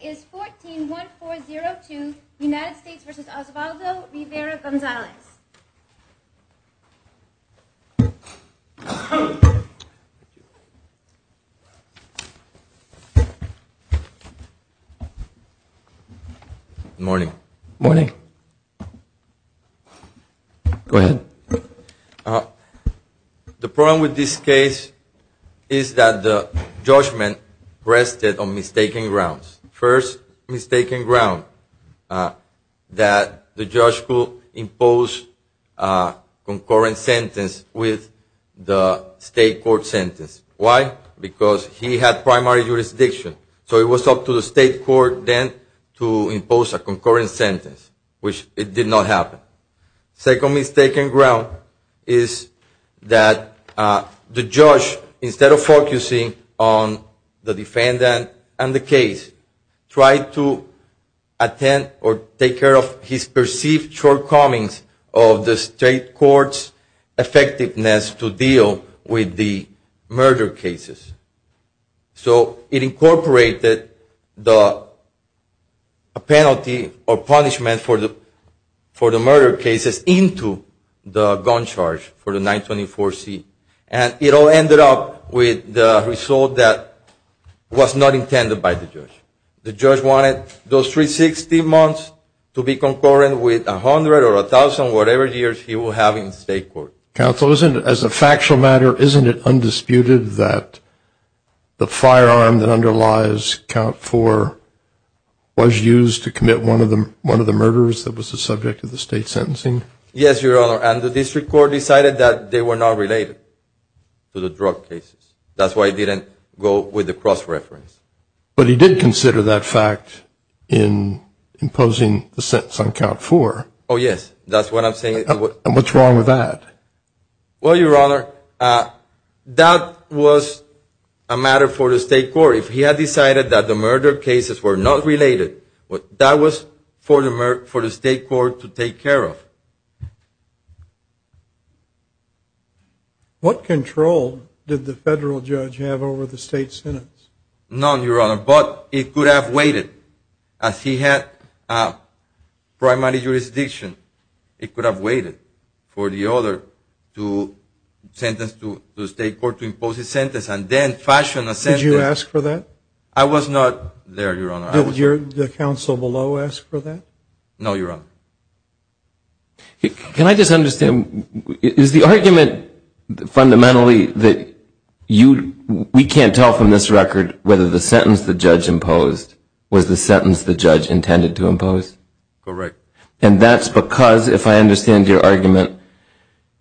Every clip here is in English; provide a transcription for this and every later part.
is 14-1402, United States v. Osvaldo Rivera-Gonzalez. Good morning. Good morning. Go ahead. The problem with this case is that the judgment rested on mistaken grounds. First, mistaken ground that the judge could impose a concurrent sentence with the state court sentence. Why? Because he had primary jurisdiction. So it was up to the state court then to impose a concurrent sentence, which it did not happen. Second mistaken ground is that the judge, instead of focusing on the defendant and the case, tried to attend or take care of his perceived shortcomings of the state court's effectiveness to deal with the murder cases. So it incorporated the penalty or punishment for the murder cases into the gun charge for the 924C. And it all ended up with the result that was not intended by the judge. The judge wanted those 360 months to be concurrent with 100 or 1,000 whatever years he will have in the state court. Counsel, as a factual matter, isn't it undisputed that the firearm that underlies Count 4 was used to commit one of the murders that was the subject of the state sentencing? Yes, Your Honor. And the district court decided that they were not related to the drug cases. That's why it didn't go with the cross-reference. But he did consider that fact in imposing the sentence on Count 4. Oh, yes. That's what I'm saying. And what's wrong with that? Well, Your Honor, that was a matter for the state court. If he had decided that the murder cases were not related, that was for the state court to take care of. What control did the federal judge have over the state sentence? None, Your Honor. But it could have waited. If he had primary jurisdiction, it could have waited for the other sentence to the state court to impose a sentence and then fashion a sentence. Did you ask for that? I was not there, Your Honor. Did the counsel below ask for that? No, Your Honor. Can I just understand? Is the argument fundamentally that we can't tell from this record whether the sentence the judge imposed was the sentence the judge intended to impose? Correct. And that's because, if I understand your argument,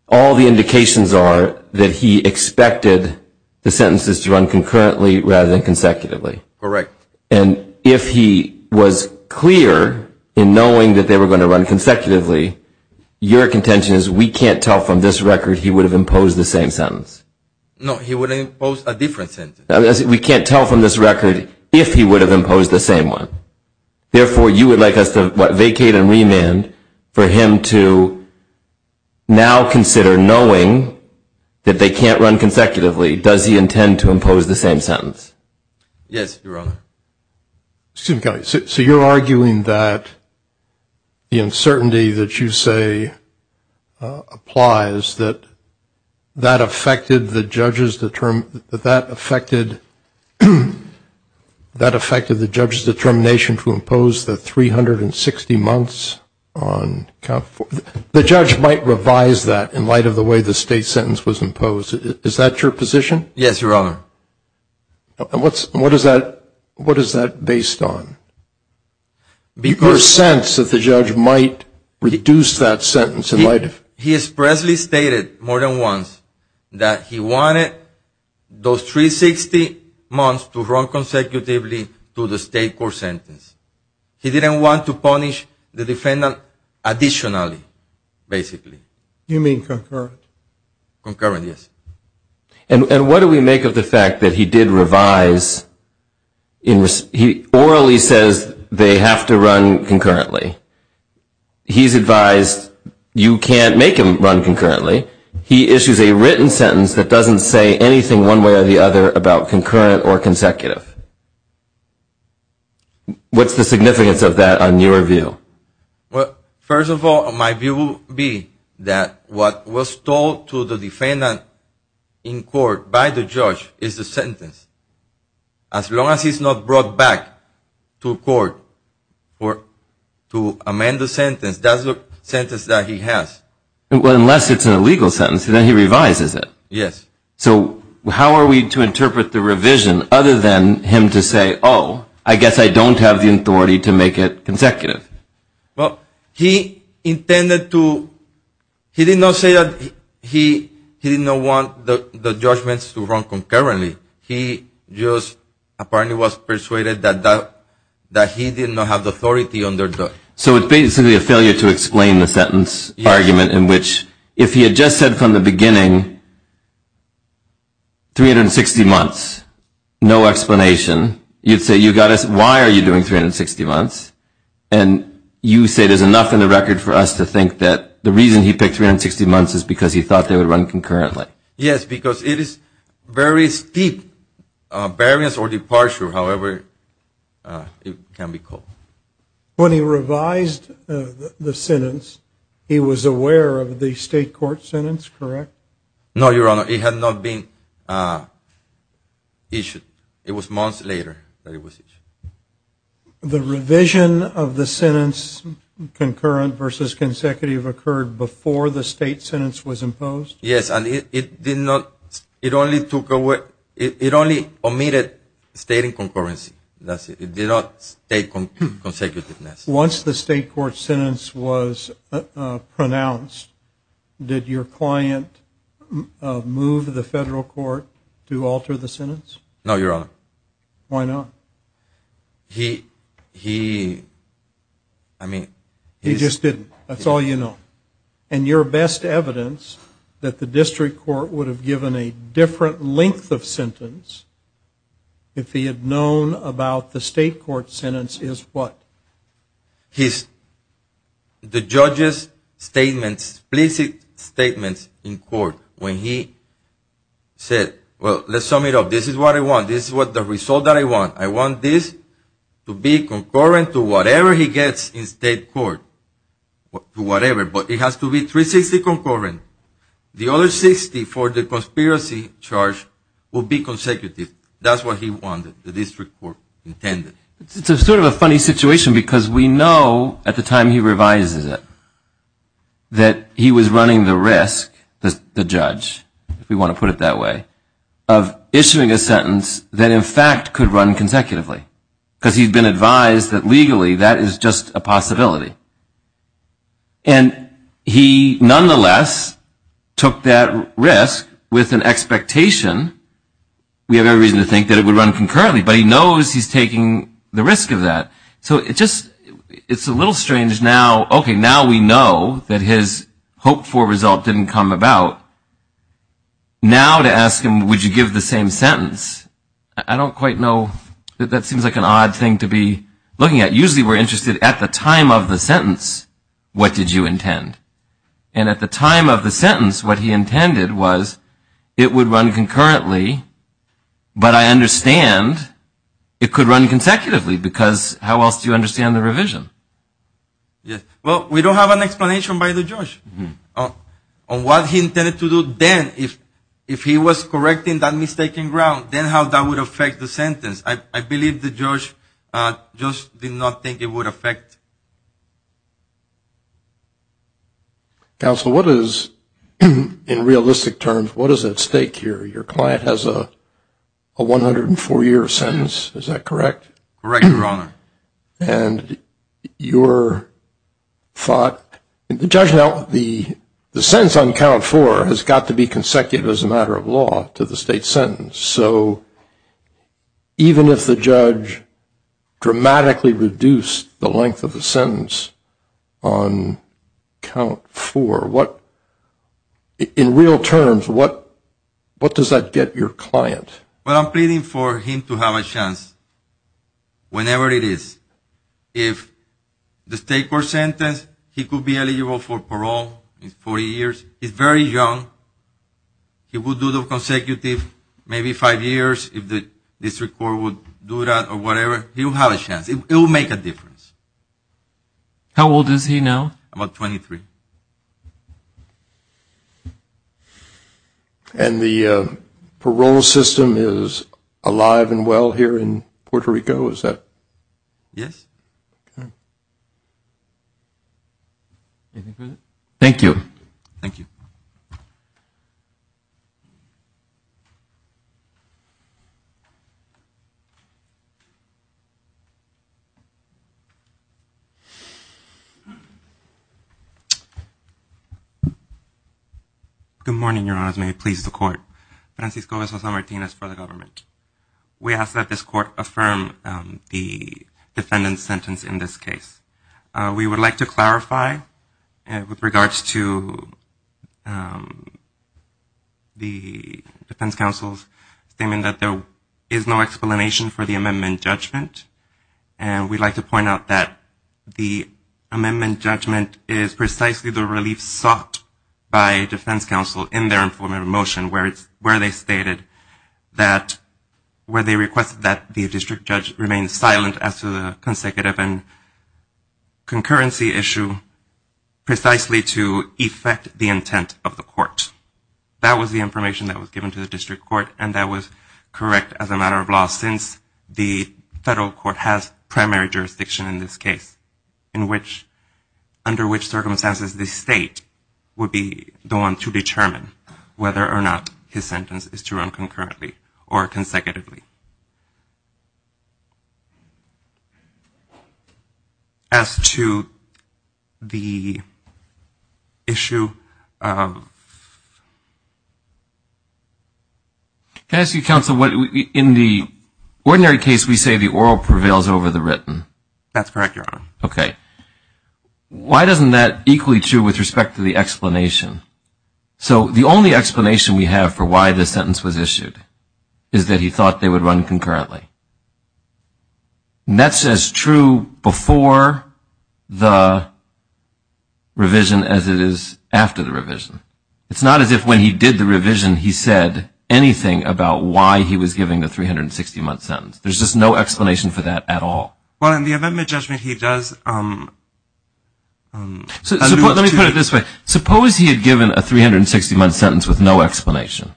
all the indications are that he expected the sentences to run concurrently rather than consecutively. Correct. And if he was clear in knowing that they were going to run consecutively, your contention is we can't tell from this record he would have imposed the same sentence? No, he would have imposed a different sentence. We can't tell from this record if he would have imposed the same one. Therefore, you would like us to vacate and remand for him to now consider knowing that they can't run consecutively. Does he intend to impose the same sentence? Yes, Your Honor. Excuse me, Kelly. So you're arguing that the uncertainty that you say applies, that that affected the judge's determination to impose the 360 months on count four. The judge might revise that in light of the way the state sentence was imposed. Is that your position? Yes, Your Honor. And what is that based on? Because... Your sense that the judge might reduce that sentence in light of... He expressly stated more than once that he wanted those 360 months to run consecutively to the state court sentence. He didn't want to punish the defendant additionally, basically. You mean concurrent? Concurrent, yes. And what do we make of the fact that he did revise... He orally says they have to run concurrently. He's advised you can't make them run concurrently. He issues a written sentence that doesn't say anything one way or the other about concurrent or consecutive. What's the significance of that on your view? Well, first of all, my view would be that what was told to the defendant in court by the judge is the sentence. As long as he's not brought back to court to amend the sentence, that's the sentence that he has. Well, unless it's an illegal sentence, then he revises it. Yes. So how are we to interpret the revision other than him to say, oh, I guess I don't have the authority to make it consecutive? Well, he intended to... He did not say that he didn't want the judgments to run concurrently. He just apparently was persuaded that he did not have the authority under the... 360 months. No explanation. You'd say, why are you doing 360 months? And you say there's enough in the record for us to think that the reason he picked 360 months is because he thought they would run concurrently. Yes, because it is very steep. Barriers or departure, however it can be called. When he revised the sentence, he was aware of the state court sentence, correct? No, Your Honor. It had not been issued. It was months later that it was issued. The revision of the sentence concurrent versus consecutive occurred before the state sentence was imposed? Yes, and it did not... It only took away... It only omitted stating concurrency. That's it. It did not state consecutiveness. Once the state court sentence was pronounced, did your client move the federal court to alter the sentence? No, Your Honor. Why not? He... I mean... He just didn't. That's all you know. And your best evidence that the district court would have given a different length of sentence if he had known about the state court sentence is what? The judge's statements, explicit statements in court when he said, well, let's sum it up. This is what I want. This is the result that I want. I want this to be concurrent to whatever he gets in state court, to whatever. But it has to be 360 concurrent. The other 60 for the conspiracy charge will be consecutive. That's what he wanted, the district court intended. It's sort of a funny situation because we know at the time he revises it that he was running the risk, the judge, if we want to put it that way, of issuing a sentence that in fact could run consecutively because he's been advised that legally that is just a possibility. And he nonetheless took that risk with an expectation. We have every reason to think that it would run concurrently, but he knows he's taking the risk of that. So it's just a little strange now. Okay, now we know that his hoped-for result didn't come about. Now to ask him, would you give the same sentence, I don't quite know. That seems like an odd thing to be looking at. Usually we're interested at the time of the sentence, what did you intend? And at the time of the sentence, what he intended was it would run concurrently, but I understand it could run consecutively because how else do you understand the revision? Well, we don't have an explanation by the judge on what he intended to do then if he was correcting that mistaken ground, then how that would affect the sentence. I believe the judge just did not think it would affect. Counsel, what is, in realistic terms, what is at stake here? Your client has a 104-year sentence, is that correct? Correct, Your Honor. And your thought, the sentence on count four has got to be consecutive as a matter of law to the state sentence. So even if the judge dramatically reduced the length of the sentence on count four, in real terms, what does that get your client? Well, I'm pleading for him to have a chance whenever it is. If the state court sentence, he could be eligible for parole in 40 years. He's very young. He will do the consecutive maybe five years if the district court would do that or whatever. He will have a chance. It will make a difference. How old is he now? About 23. And the parole system is alive and well here in Puerto Rico, is that? Yes. Anything further? Thank you. Thank you. Good morning, Your Honors. May it please the court. Francisco S. Martinez for the government. We ask that this court affirm the defendant's sentence in this case. We would like to clarify with regards to the defense counsel's statement that there is no explanation for the amendment judgment. And we'd like to point out that the amendment judgment is precisely the relief sought by defense counsel in their informative motion, where they stated that, where they requested that the district judge remain silent as to the consecutive and concurrency issue precisely to effect the intent of the court. That was the information that was given to the district court, and that was correct as a matter of law, since the federal court has primary jurisdiction in this case, under which circumstances the state would be the one to determine whether or not his sentence is to run concurrently or consecutively. As to the issue of the court's decision, can I ask you, counsel, in the ordinary case, we say the oral prevails over the written. That's correct, Your Honor. Okay. Why isn't that equally true with respect to the explanation? So the only explanation we have for why this sentence was issued is that he thought they would run concurrently. And that's as true before the revision as it is after the revision. It's not as if when he did the revision he said anything about why he was given the 360-month sentence. There's just no explanation for that at all. Well, in the event of a judgment, he does. Let me put it this way. Suppose he had given a 360-month sentence with no explanation.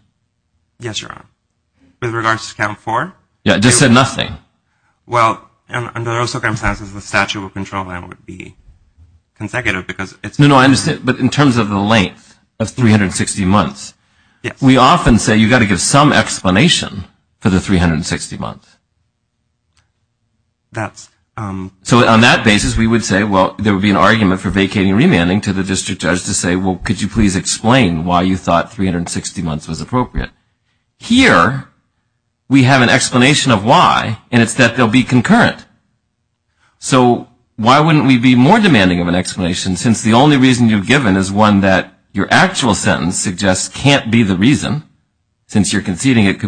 Yes, Your Honor. With regards to count four? Yeah, it just said nothing. Well, under those circumstances, the statute of control would be consecutive because it's... No, no, I understand. But in terms of the length of 360 months... Yes. We often say you've got to give some explanation for the 360 months. That's... So on that basis, we would say, well, there would be an argument for vacating remanding to the district judge to say, well, could you please explain why you thought 360 months was appropriate? Here, we have an explanation of why, and it's that they'll be concurrent. So why wouldn't we be more demanding of an explanation since the only reason you've given is one that your actual sentence suggests can't be the reason since you're conceding it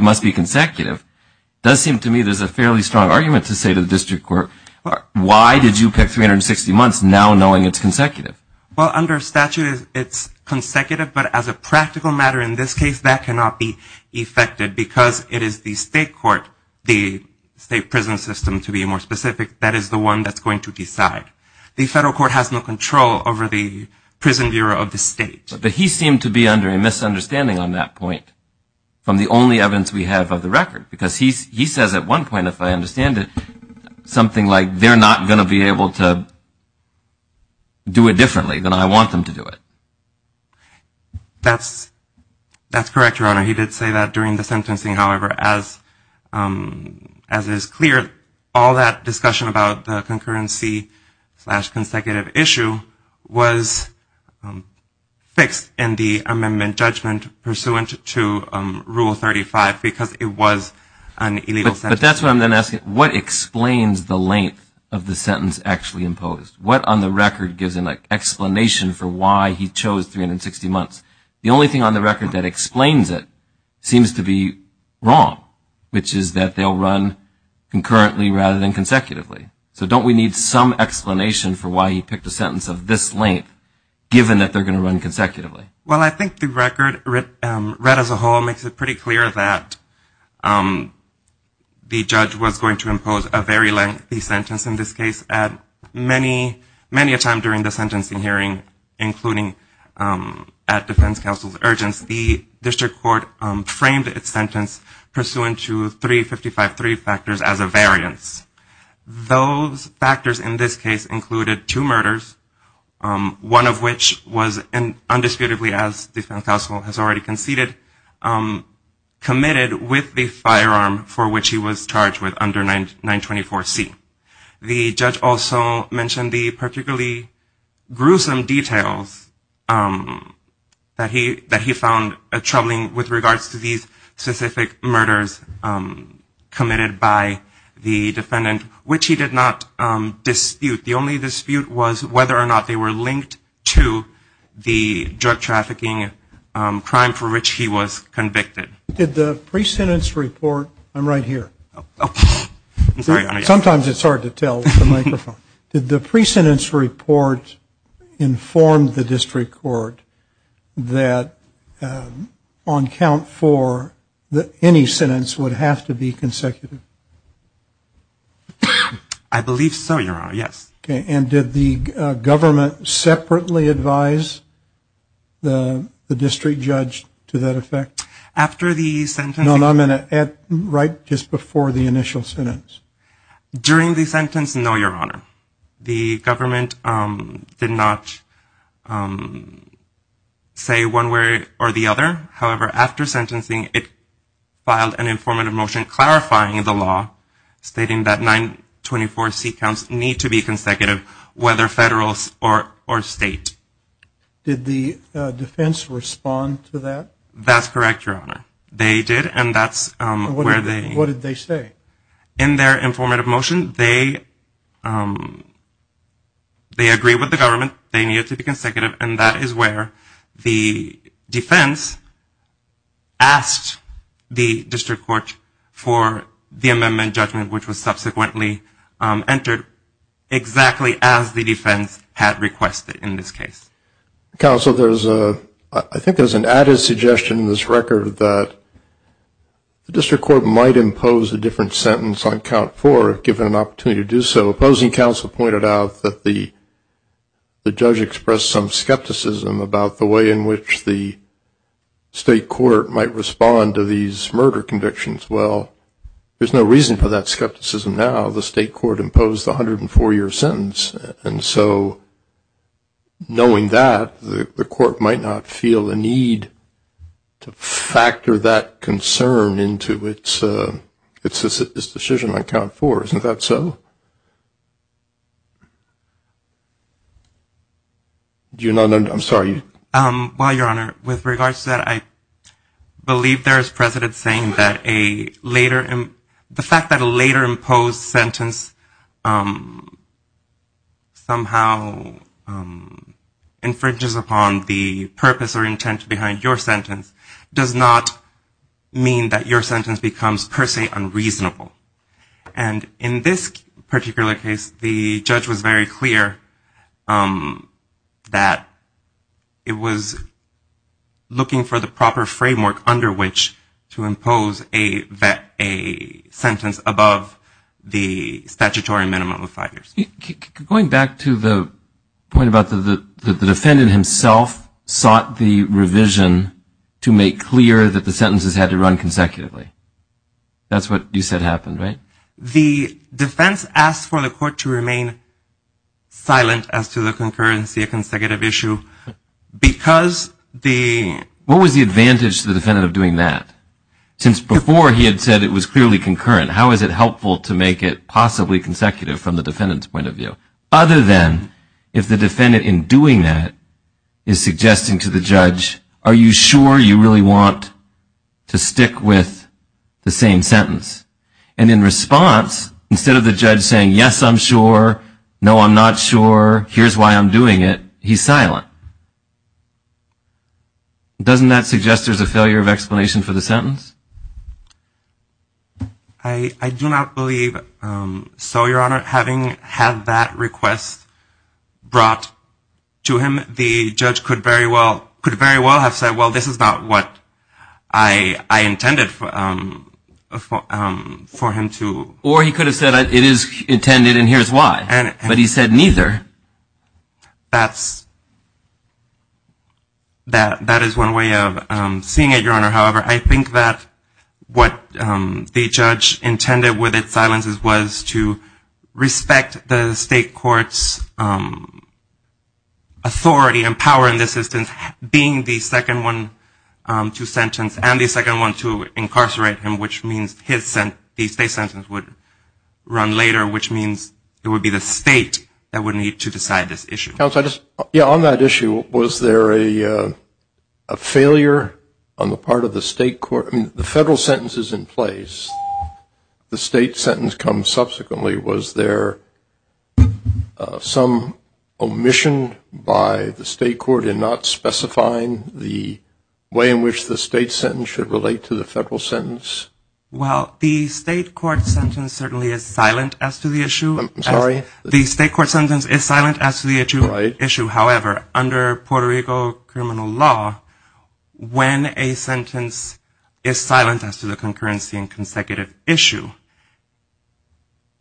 must be consecutive? It does seem to me there's a fairly strong argument to say to the district court, why did you pick 360 months now knowing it's consecutive? Well, under statute, it's consecutive, but as a practical matter in this case, that cannot be effected because it is the state court, the state prison system to be more specific, that is the one that's going to decide. The federal court has no control over the prison bureau of the state. But he seemed to be under a misunderstanding on that point from the only evidence we have of the record because he says at one point, if I understand it, something like they're not going to be able to do it differently than I want them to do it. That's correct, Your Honor. He did say that during the sentencing. However, as is clear, all that discussion about the concurrency slash consecutive issue was fixed in the amendment judgment pursuant to Rule 35 because it was an illegal sentence. But that's what I'm then asking. What explains the length of the sentence actually imposed? What on the record gives an explanation for why he chose 360 months? The only thing on the record that explains it seems to be wrong, which is that they'll run concurrently rather than consecutively. So don't we need some explanation for why he picked a sentence of this length, given that they're going to run consecutively? Well, I think the record read as a whole makes it pretty clear that the judge was going to impose a very lengthy sentence, in this case, many a time during the sentencing hearing, including at defense counsel's urgence. The district court framed its sentence pursuant to 355.3 factors as a variance. Those factors in this case included two murders, one of which was undisputedly, as defense counsel has already conceded, committed with the firearm for which he was charged with under 924C. The judge also mentioned the particularly gruesome details that he found troubling with regards to these specific murders committed by the defendant, which he did not dispute. The only dispute was whether or not they were linked to the drug trafficking crime for which he was convicted. Did the pre-sentence report, I'm right here. Sometimes it's hard to tell with the microphone. Did the pre-sentence report inform the district court that on count for any sentence would have to be consecutive? I believe so, Your Honor, yes. And did the government separately advise the district judge to that effect? After the sentencing? No, I'm going to add right just before the initial sentence. During the sentence, no, Your Honor. The government did not say one way or the other. However, after sentencing, it filed an informative motion clarifying the law stating that 924C counts need to be consecutive, whether federal or state. Did the defense respond to that? That's correct, Your Honor. They did, and that's where they... What did they say? In their informative motion, they agree with the government. They need it to be consecutive, and that is where the defense asked the district court for the amendment judgment, which was subsequently entered exactly as the defense had requested in this case. Counsel, there's a... I think there's an added suggestion in this record that the district court might impose a different sentence on count for if given an opportunity to do so. The opposing counsel pointed out that the judge expressed some skepticism about the way in which the state court might respond to these murder convictions. Well, there's no reason for that skepticism now. The state court imposed the 104-year sentence, and so knowing that, the court might not feel the need to factor that concern into its decision on count for. Isn't that so? Do you know? I'm sorry. Well, Your Honor, with regards to that, I believe there is precedent saying that a later... somehow infringes upon the purpose or intent behind your sentence does not mean that your sentence becomes, per se, unreasonable. And in this particular case, the judge was very clear that it was looking for the proper framework under which to impose a sentence above the statutory minimum of five years. Going back to the point about the defendant himself sought the revision to make clear that the sentences had to run consecutively. That's what you said happened, right? The defense asked for the court to remain silent as to the concurrency of consecutive issue because the... What was the advantage to the defendant of doing that? Since before he had said it was clearly concurrent, how is it helpful to make it possibly consecutive from the defendant's point of view? Other than if the defendant in doing that is suggesting to the judge, are you sure you really want to stick with the same sentence? And in response, instead of the judge saying, yes, I'm sure, no, I'm not sure, here's why I'm doing it, he's silent. Doesn't that suggest there's a failure of explanation for the sentence? I do not believe so, Your Honor. Having had that request brought to him, the judge could very well have said, well, this is not what I intended for him to... Or he could have said, it is intended and here's why. But he said neither. That is one way of seeing it, Your Honor. However, I think that what the judge intended with its silences was to respect the state court's authority and power in this instance, being the second one to sentence and the second one to incarcerate him, which means the state sentence would run later, which means it would be the state that would need to decide this issue. Yeah, on that issue, was there a failure on the part of the state court? I mean, the federal sentence is in place. The state sentence comes subsequently. Was there some omission by the state court in not specifying the way in which the state sentence should relate to the federal sentence? Well, the state court sentence certainly is silent as to the issue. I'm sorry? The state court sentence is silent as to the issue. However, under Puerto Rico criminal law, when a sentence is silent as to the concurrency and consecutive issue,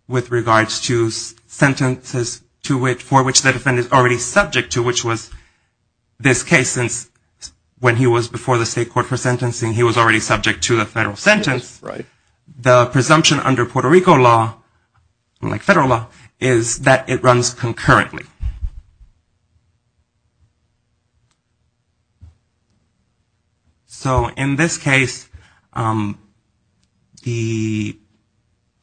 with regards to sentences for which the defendant is already subject to, which was this case, since when he was before the state court for sentencing, he was already subject to a federal sentence, the presumption under Puerto Rico law, like federal law, is that it runs concurrently. So in this case, the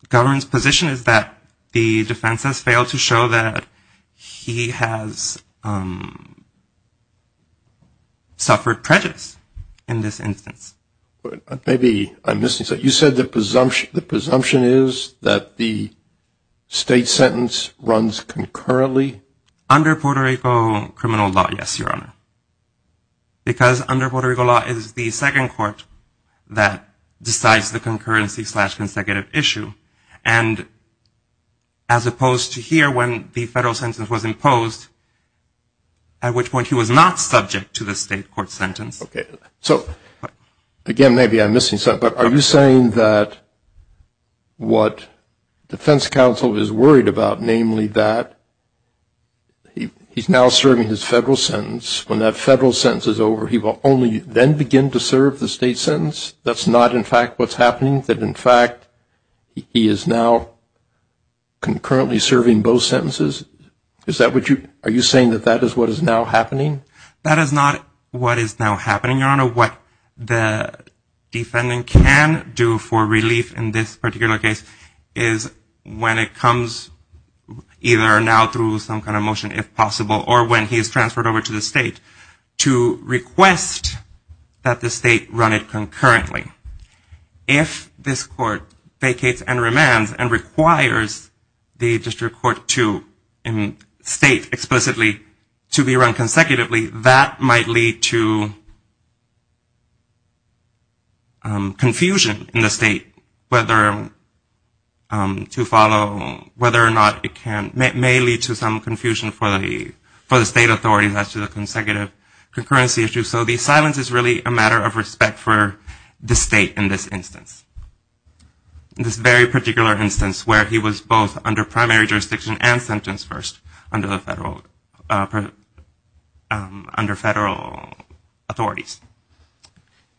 government's position is that the defense has failed to show that he has suffered prejudice in this instance. Maybe I'm missing something. You said the presumption is that the state sentence runs concurrently? Under Puerto Rico criminal law, yes, Your Honor. Because under Puerto Rico law is the second court that decides the concurrency slash consecutive issue. And as opposed to here when the federal sentence was imposed, at which point he was not subject to the state court sentence. Okay. So, again, maybe I'm missing something. But are you saying that what defense counsel is worried about, namely, that he's now serving his federal sentence, when that federal sentence is over, he will only then begin to serve the state sentence? That's not, in fact, what's happening? That, in fact, he is now concurrently serving both sentences? Is that what you – are you saying that that is what is now happening? That is not what is now happening, Your Honor. What the defendant can do for relief in this particular case is when it comes either now through some kind of motion, if possible, or when he is transferred over to the state, to request that the state run it concurrently. If this court vacates and remands and requires the district court to state explicitly to be run consecutively, that might lead to confusion in the state whether to follow – whether or not it can – may lead to some confusion for the state authorities as to the consecutive concurrency issue. So the silence is really a matter of respect for the state in this instance, in this very particular instance where he was both under primary jurisdiction and sentence first under federal authorities. Thank you.